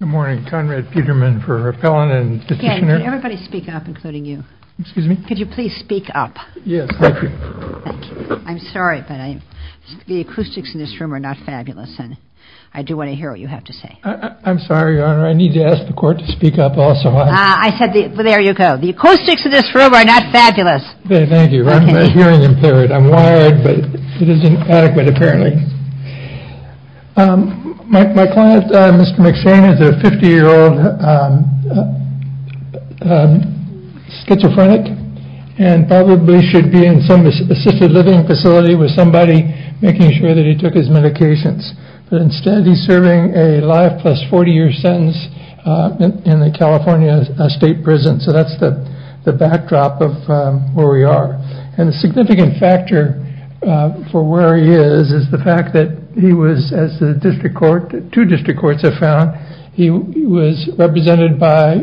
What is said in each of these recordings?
Good morning, Conrad Peterman for Appellant and Petitioner. Can everybody speak up, including you? Excuse me? Could you please speak up? Yes, thank you. Thank you. I'm sorry, but the acoustics in this room are not fabulous, and I do want to hear what you have to say. I'm sorry, Your Honor, I need to ask the Court to speak up also. I said, there you go. The acoustics in this room are not fabulous. Thank you. My hearing impaired. I'm wired, but it isn't adequate, apparently. My client, Mr. McShane, is a 50-year-old schizophrenic and probably should be in some assisted living facility with somebody making sure that he took his medications. But instead, he's serving a life plus 40-year sentence in a California state prison. So that's the backdrop of where we are. And a significant factor for where he is is the fact that he was, as two district courts have found, he was represented by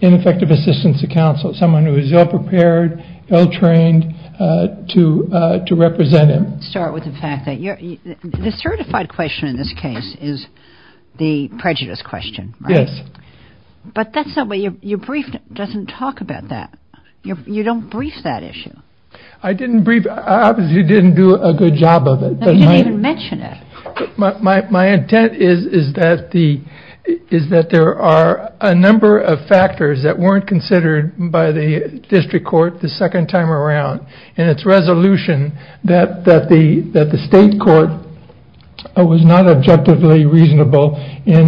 ineffective assistance to counsel, someone who was ill-prepared, ill-trained to represent him. Let's start with the fact that the certified question in this case is the prejudice question, right? Yes. But your brief doesn't talk about that. You don't brief that issue. I didn't brief it. I obviously didn't do a good job of it. You didn't even mention it. My intent is that there are a number of factors that weren't considered by the district court the second time around in its resolution that the state court was not objectively reasonable if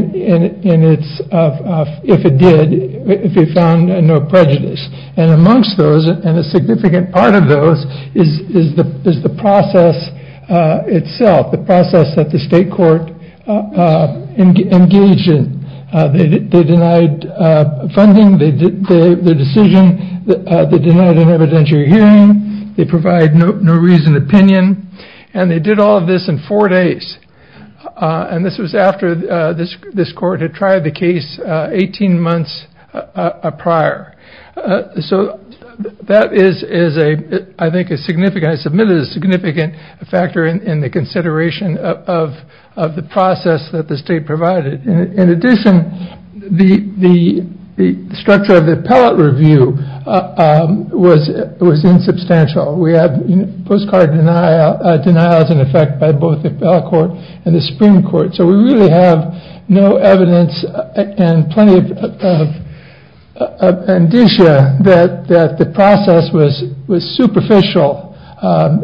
it found no prejudice. And amongst those, and a significant part of those, is the process itself, the process that the state court engaged in. They denied funding, the decision, they denied an evidentiary hearing, they provide no reasoned opinion, and they did all of this in four days. And this was after this court had tried the case 18 months prior. So that is, I think, a significant factor in the consideration of the process that the state provided. In addition, the structure of the appellate review was insubstantial. We have postcard denials in effect by both the appellate court and the Supreme Court. So we really have no evidence and plenty of indicia that the process was superficial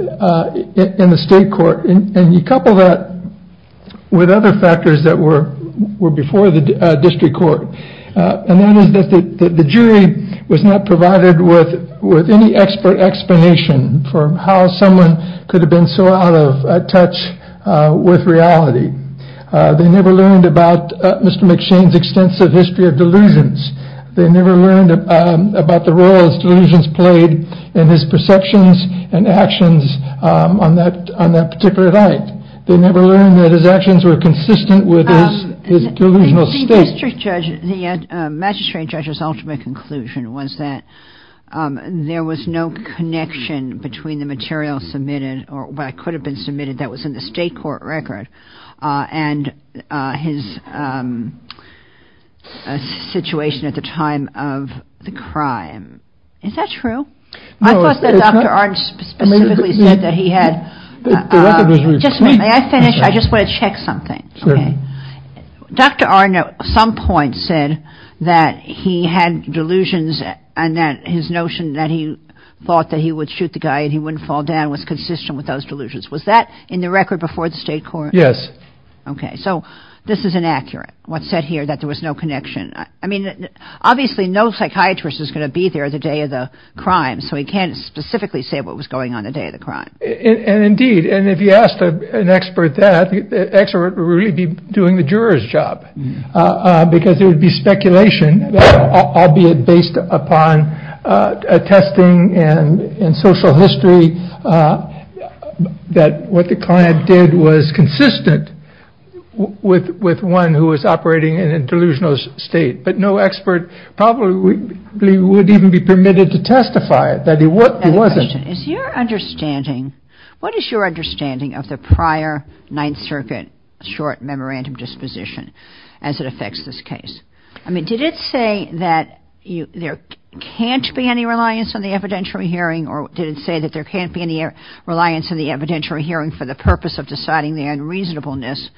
in the state court. And you couple that with other factors that were before the district court. And that is that the jury was not provided with any expert explanation for how someone could have been so out of touch with reality. They never learned about Mr. McShane's extensive history of delusions. They never learned about the role his delusions played in his perceptions and actions on that particular night. They never learned that his actions were consistent with his delusional state. The magistrate judge's ultimate conclusion was that there was no connection between the material submitted, or what could have been submitted that was in the state court record, and his situation at the time of the crime. Is that true? I thought that Dr. Arnn specifically said that he had... May I finish? I just want to check something. Dr. Arnn at some point said that he had delusions and that his notion that he thought that he would shoot the guy and he wouldn't fall down was consistent with those delusions. Was that in the record before the state court? Yes. Okay, so this is inaccurate, what's said here that there was no connection. I mean, obviously no psychiatrist is going to be there the day of the crime, so he can't specifically say what was going on the day of the crime. And indeed, and if you asked an expert that, the expert would really be doing the juror's job, because there would be speculation, albeit based upon testing and social history, that what the client did was consistent with one who was operating in a delusional state. But no expert probably would even be permitted to testify that he wasn't. What is your understanding of the prior Ninth Circuit short memorandum disposition as it affects this case? I mean, did it say that there can't be any reliance on the evidentiary hearing or did it say that there can't be any reliance on the evidentiary hearing for the purpose of deciding the unreasonableness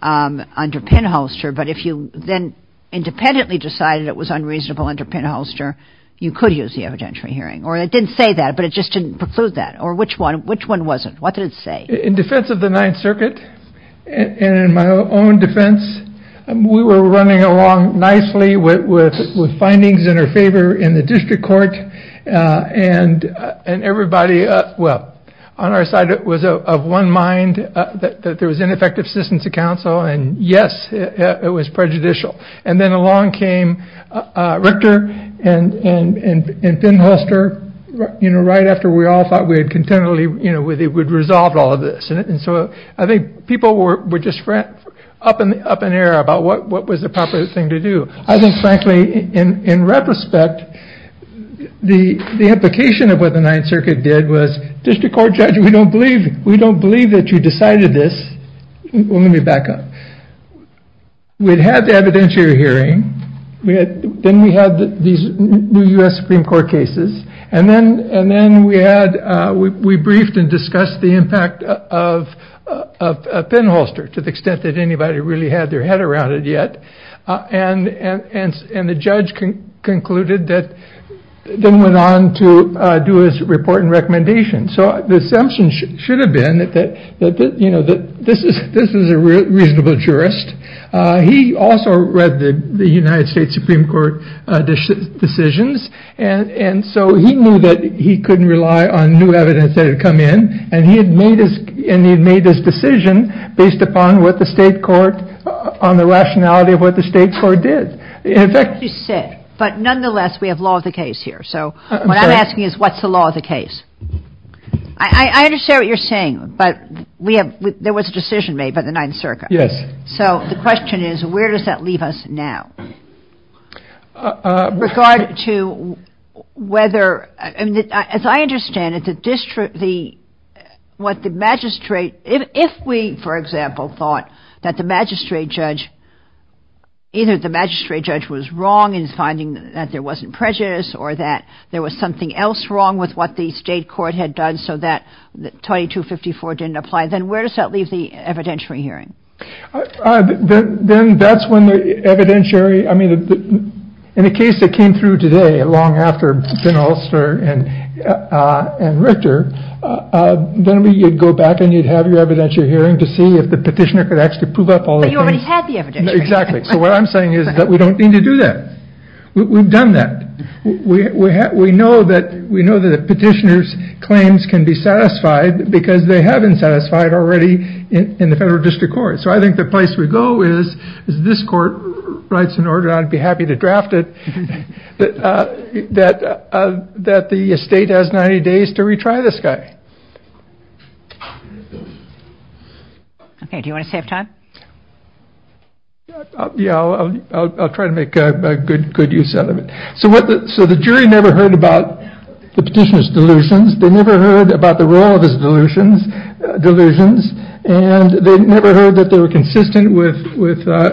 under pinholster, but if you then independently decided it was unreasonable under pinholster, you could use the evidentiary hearing? Or it didn't say that, but it just didn't preclude that? Or which one wasn't? What did it say? In defense of the Ninth Circuit, and in my own defense, we were running along nicely with findings in our favor in the district court, and everybody, well, on our side it was of one mind that there was ineffective assistance to counsel, and yes, it was prejudicial. And then along came Richter and pinholster, you know, right after we all thought we had contentedly, you know, we would resolve all of this. And so I think people were just up in air about what was the proper thing to do. I think, frankly, in retrospect, the implication of what the Ninth Circuit did was, district court judge, we don't believe that you decided this. Let me back up. We'd had the evidentiary hearing. Then we had these new U.S. Supreme Court cases. And then we briefed and discussed the impact of pinholster, to the extent that anybody really had their head around it yet. And the judge concluded that, then went on to do his report and recommendation. So the assumption should have been that, you know, this is a reasonable jurist. He also read the United States Supreme Court decisions, and so he knew that he couldn't rely on new evidence that had come in, and he had made his decision based upon what the state court, on the rationality of what the state court did. But nonetheless, we have law of the case here. So what I'm asking is, what's the law of the case? I understand what you're saying, but we have, there was a decision made by the Ninth Circuit. Yes. So the question is, where does that leave us now? With regard to whether, as I understand it, the district, the, what the magistrate, if we, for example, thought that the magistrate judge, either the magistrate judge was wrong in finding that there wasn't prejudice, or that there was something else wrong with what the state court had done so that 2254 didn't apply, then where does that leave the evidentiary hearing? Then that's when the evidentiary, I mean, in a case that came through today, long after Ben Ulster and Richter, then you'd go back and you'd have your evidentiary hearing to see if the petitioner could actually prove up all the things. But you already had the evidentiary hearing. Exactly. So what I'm saying is that we don't need to do that. We've done that. We know that the petitioner's claims can be satisfied because they haven't satisfied already in the federal district court. So I think the place we go is, is this court writes an order, I'd be happy to draft it. That the state has 90 days to retry this guy. Okay, do you want to save time? Yeah, I'll try to make good use out of it. So the jury never heard about the petitioner's delusions. They never heard about the role of his delusions. And they never heard that they were consistent with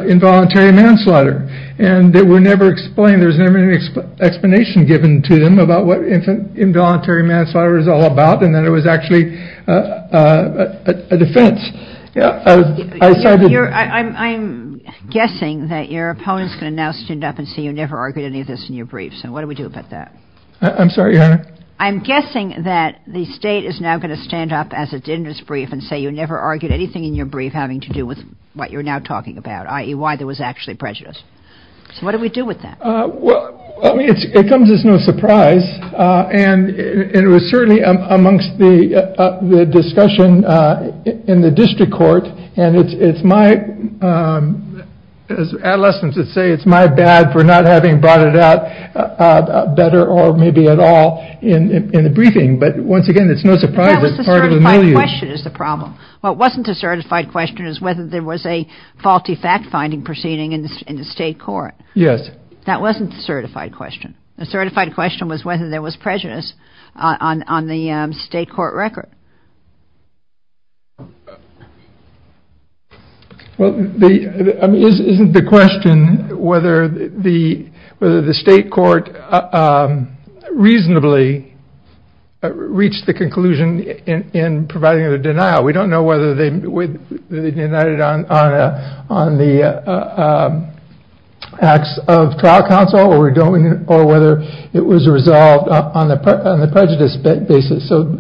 involuntary manslaughter. And they were never explained. There was never any explanation given to them about what involuntary manslaughter was all about. And that it was actually a defense. I'm guessing that your opponent's going to now stand up and say you never argued any of this in your briefs. And what do we do about that? I'm sorry, Your Honor? I'm guessing that the state is now going to stand up as it did in its brief and say you never argued anything in your brief having to do with what you're now talking about. I.e., why there was actually prejudice. So what do we do with that? It comes as no surprise. And it was certainly amongst the discussion in the district court. And it's my, as adolescents would say, it's my bad for not having brought it out better or maybe at all in the briefing. But once again, it's no surprise that it's part of the millions. But that was the certified question is the problem. What wasn't a certified question is whether there was a faulty fact-finding proceeding in the state court. Yes. That wasn't the certified question. The certified question was whether there was prejudice on the state court record. Well, isn't the question whether the state court reasonably reached the conclusion in providing the denial. We don't know whether they denied it on the acts of trial counsel or whether it was resolved on the prejudice basis. So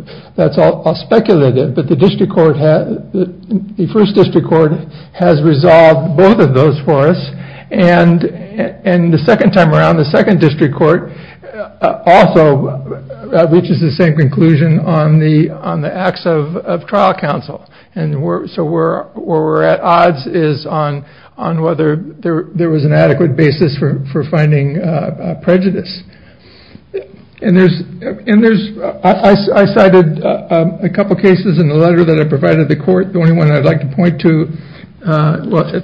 I'll speculate it. But the first district court has resolved both of those for us. And the second time around, the second district court also reaches the same conclusion on the on the acts of trial counsel. And so we're we're at odds is on on whether there was an adequate basis for finding prejudice. And there's and there's I cited a couple of cases in the letter that I provided the court. The only one I'd like to point to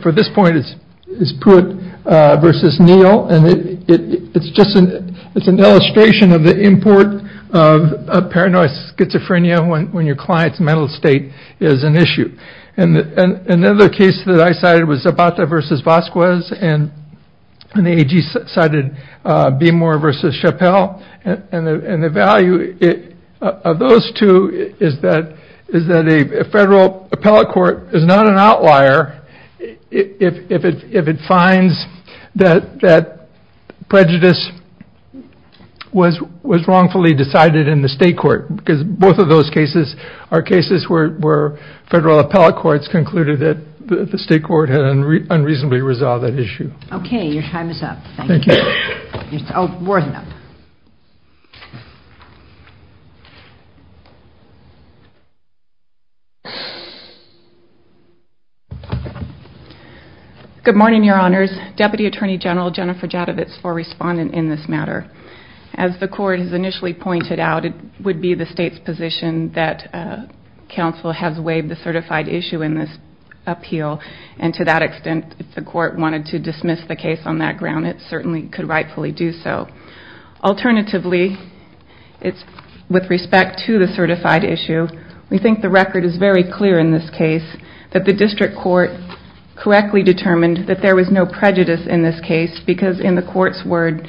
for this point is is put versus Neal. And it's just an it's an illustration of the import of paranoid schizophrenia when when your client's mental state is an issue. And another case that I cited was about the versus Vasquez. And the AG cited be more versus Chappelle. And the value of those two is that is that a federal appellate court is not an outlier. If it if it finds that that prejudice was was wrongfully decided in the state court, because both of those cases are cases where federal appellate courts concluded that the state court had unreasonably resolved that issue. OK, your time is up. Thank you. Oh, worth it. Good morning, Your Honors. Deputy Attorney General Jennifer Javits for respondent in this matter. As the court has initially pointed out, it would be the state's position that counsel has waived the certified issue in this appeal. And to that extent, if the court wanted to dismiss the case on that ground, it certainly could rightfully do so. Alternatively, it's with respect to the certified issue. We think the record is very clear in this case that the district court correctly determined that there was no prejudice in this case. Because in the court's word,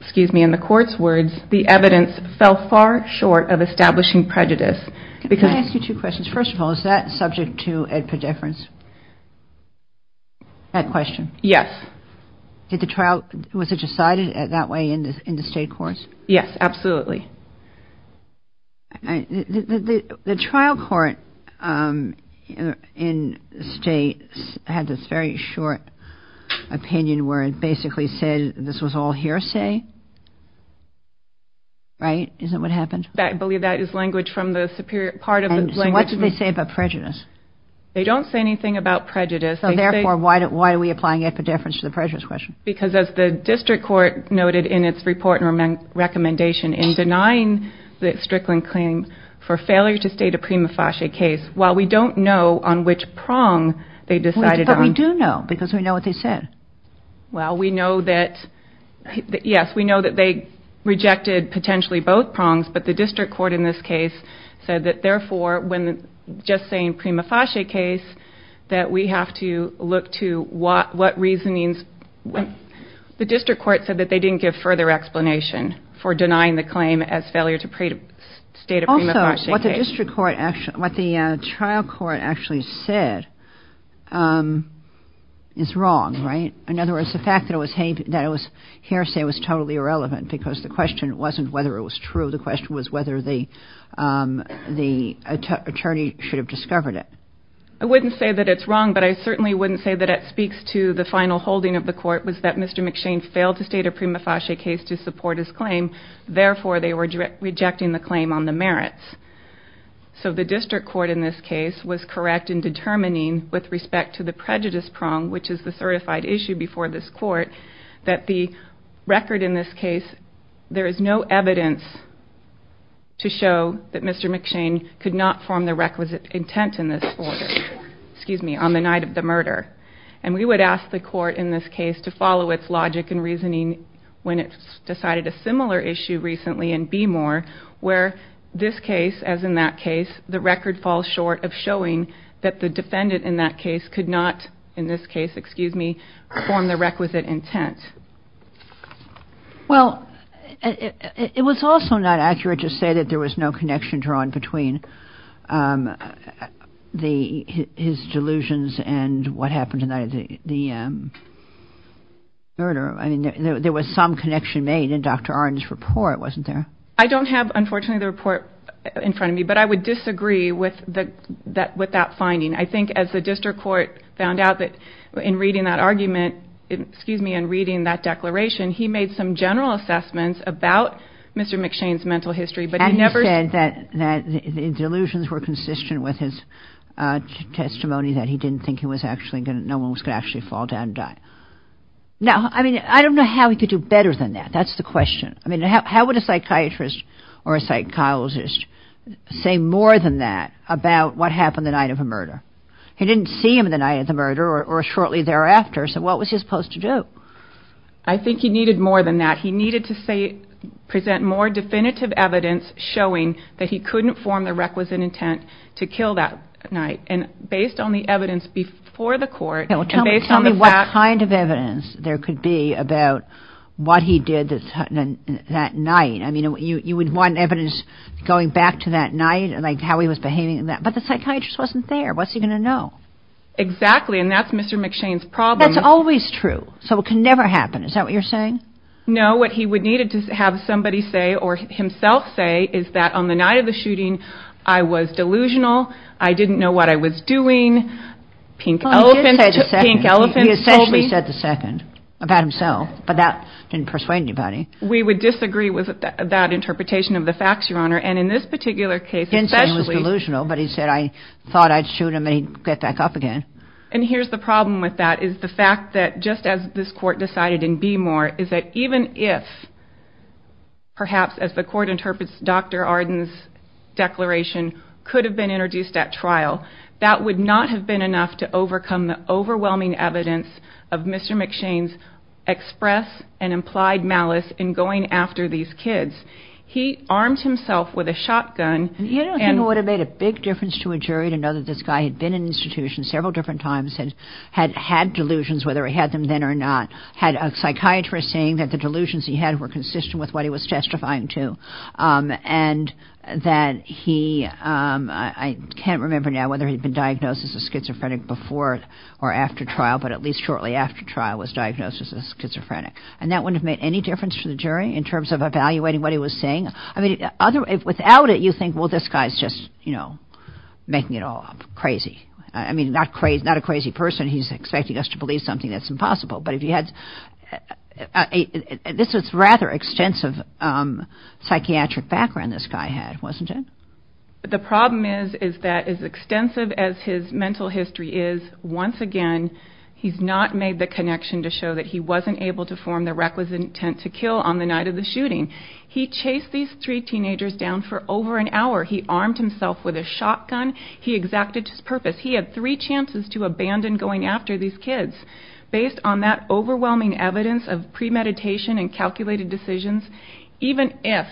excuse me, in the court's words, the evidence fell far short of establishing prejudice. Because I ask you two questions. First of all, is that subject to a difference? That question. Yes. Did the trial. Was it decided that way in the state courts? Yes, absolutely. The trial court in state had this very short opinion where it basically said this was all hearsay. Right. Isn't what happened. I believe that is language from the superior part of the language. What did they say about prejudice? They don't say anything about prejudice. So therefore, why are we applying it for deference to the prejudice question? Because as the district court noted in its report and recommendation in denying the Strickland claim for failure to state a prima facie case, while we don't know on which prong they decided. But we do know because we know what they said. Well, we know that. Yes, we know that they rejected potentially both prongs. But the district court in this case said that, therefore, when just saying prima facie case, that we have to look to what reasonings. The district court said that they didn't give further explanation for denying the claim as failure to state a prima facie case. Also, what the district court, what the trial court actually said is wrong. Right. In other words, the fact that it was hearsay was totally irrelevant because the question wasn't whether it was true. The question was whether the attorney should have discovered it. I wouldn't say that it's wrong, but I certainly wouldn't say that it speaks to the final holding of the court, was that Mr. McShane failed to state a prima facie case to support his claim. Therefore, they were rejecting the claim on the merits. So the district court in this case was correct in determining with respect to the prejudice prong, which is the certified issue before this court, that the record in this case, there is no evidence to show that Mr. McShane could not form the requisite intent in this order, excuse me, on the night of the murder. And we would ask the court in this case to follow its logic and reasoning when it decided a similar issue recently in Beemore, where this case, as in that case, the record falls short of showing that the defendant in that case could not, in this case, excuse me, form the requisite intent. Well, it was also not accurate to say that there was no connection drawn between his delusions and what happened the night of the murder. I mean, there was some connection made in Dr. Arndt's report, wasn't there? I don't have, unfortunately, the report in front of me, but I would disagree with that finding. I think as the district court found out that in reading that argument, excuse me, in reading that declaration, he made some general assessments about Mr. McShane's mental history, but he never said that his delusions were consistent with his testimony that he didn't think no one was going to actually fall down and die. Now, I mean, I don't know how he could do better than that. That's the question. I mean, how would a psychiatrist or a psychologist say more than that about what happened the night of a murder? He didn't see him the night of the murder or shortly thereafter, so what was he supposed to do? I think he needed more than that. He needed to present more definitive evidence showing that he couldn't form the requisite intent to kill that night. And based on the evidence before the court and based on the fact… I mean, you would want evidence going back to that night, like how he was behaving, but the psychiatrist wasn't there. What's he going to know? Exactly, and that's Mr. McShane's problem. That's always true, so it can never happen. Is that what you're saying? No, what he would need to have somebody say or himself say is that on the night of the shooting, I was delusional, I didn't know what I was doing. Pink elephant told me. He essentially said the second about himself, but that didn't persuade anybody. We would disagree with that interpretation of the facts, Your Honor, and in this particular case, especially… Henson was delusional, but he said, I thought I'd shoot him and he'd get back up again. And here's the problem with that is the fact that just as this court decided in Beemore is that even if, perhaps as the court interprets Dr. Arden's declaration, could have been introduced at trial, that would not have been enough to overcome the overwhelming evidence of Mr. McShane's express and implied malice in going after these kids. He armed himself with a shotgun. You don't think it would have made a big difference to a jury to know that this guy had been in institutions several different times, had had delusions, whether he had them then or not, had a psychiatrist saying that the delusions he had were consistent with what he was testifying to, and that he, I can't remember now whether he'd been diagnosed as a schizophrenic before or after trial, but at least shortly after trial was diagnosed as a schizophrenic. And that wouldn't have made any difference to the jury in terms of evaluating what he was saying. I mean, without it, you think, well, this guy's just, you know, making it all up, crazy. I mean, not a crazy person. He's expecting us to believe something that's impossible. But if you had, this is rather extensive psychiatric background this guy had, wasn't it? The problem is that as extensive as his mental history is, once again, he's not made the connection to show that he wasn't able to form the requisite intent to kill on the night of the shooting. He chased these three teenagers down for over an hour. He armed himself with a shotgun. He exacted his purpose. He had three chances to abandon going after these kids. Based on that overwhelming evidence of premeditation and calculated decisions, even if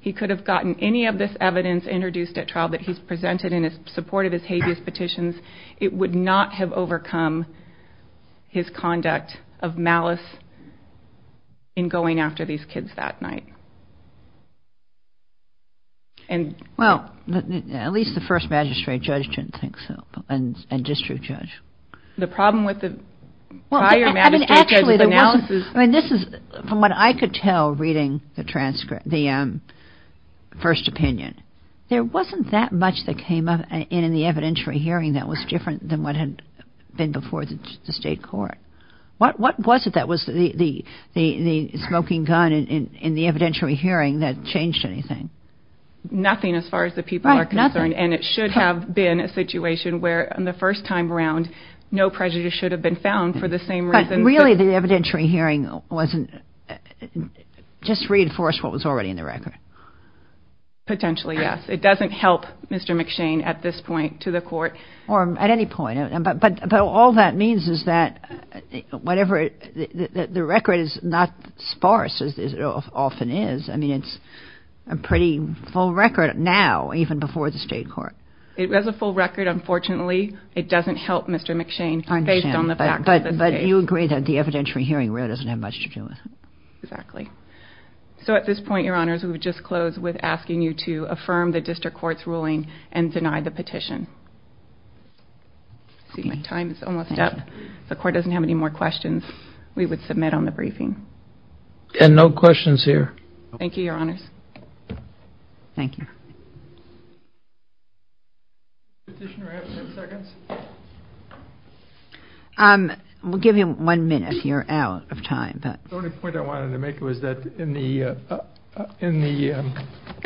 he could have gotten any of this evidence introduced at trial that he's presented in support of his habeas petitions, it would not have overcome his conduct of malice in going after these kids that night. Well, at least the first magistrate judge didn't think so, and district judge. The problem with the prior magistrate judge's analysis. I mean, this is, from what I could tell reading the transcript, the first opinion, there wasn't that much that came up in the evidentiary hearing that was different than what had been before the state court. What was it that was the smoking gun in the evidentiary hearing that changed anything? Nothing as far as the people are concerned. And it should have been a situation where the first time around, no prejudice should have been found for the same reason. Really, the evidentiary hearing wasn't just reinforced what was already in the record. Potentially, yes. It doesn't help Mr. McShane at this point to the court. Or at any point. But all that means is that whatever the record is not sparse, as it often is. I mean, it's a pretty full record now, even before the state court. It has a full record, unfortunately. It doesn't help Mr. McShane based on the fact that... But you agree that the evidentiary hearing really doesn't have much to do with it. Exactly. So at this point, Your Honors, we would just close with asking you to affirm the district court's ruling and deny the petition. My time is almost up. If the court doesn't have any more questions, we would submit on the briefing. And no questions here. Thank you, Your Honors. Thank you. Petitioner has ten seconds. We'll give him one minute. You're out of time. The only point I wanted to make was that in the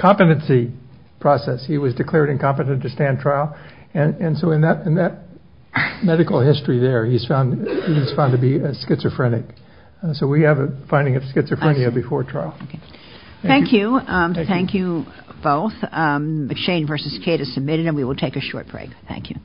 competency process, he was declared incompetent to stand trial. And so in that medical history there, he's found to be schizophrenic. So we have a finding of schizophrenia before trial. Thank you. Thank you both. McShane v. Kate is submitted, and we will take a short break. Thank you.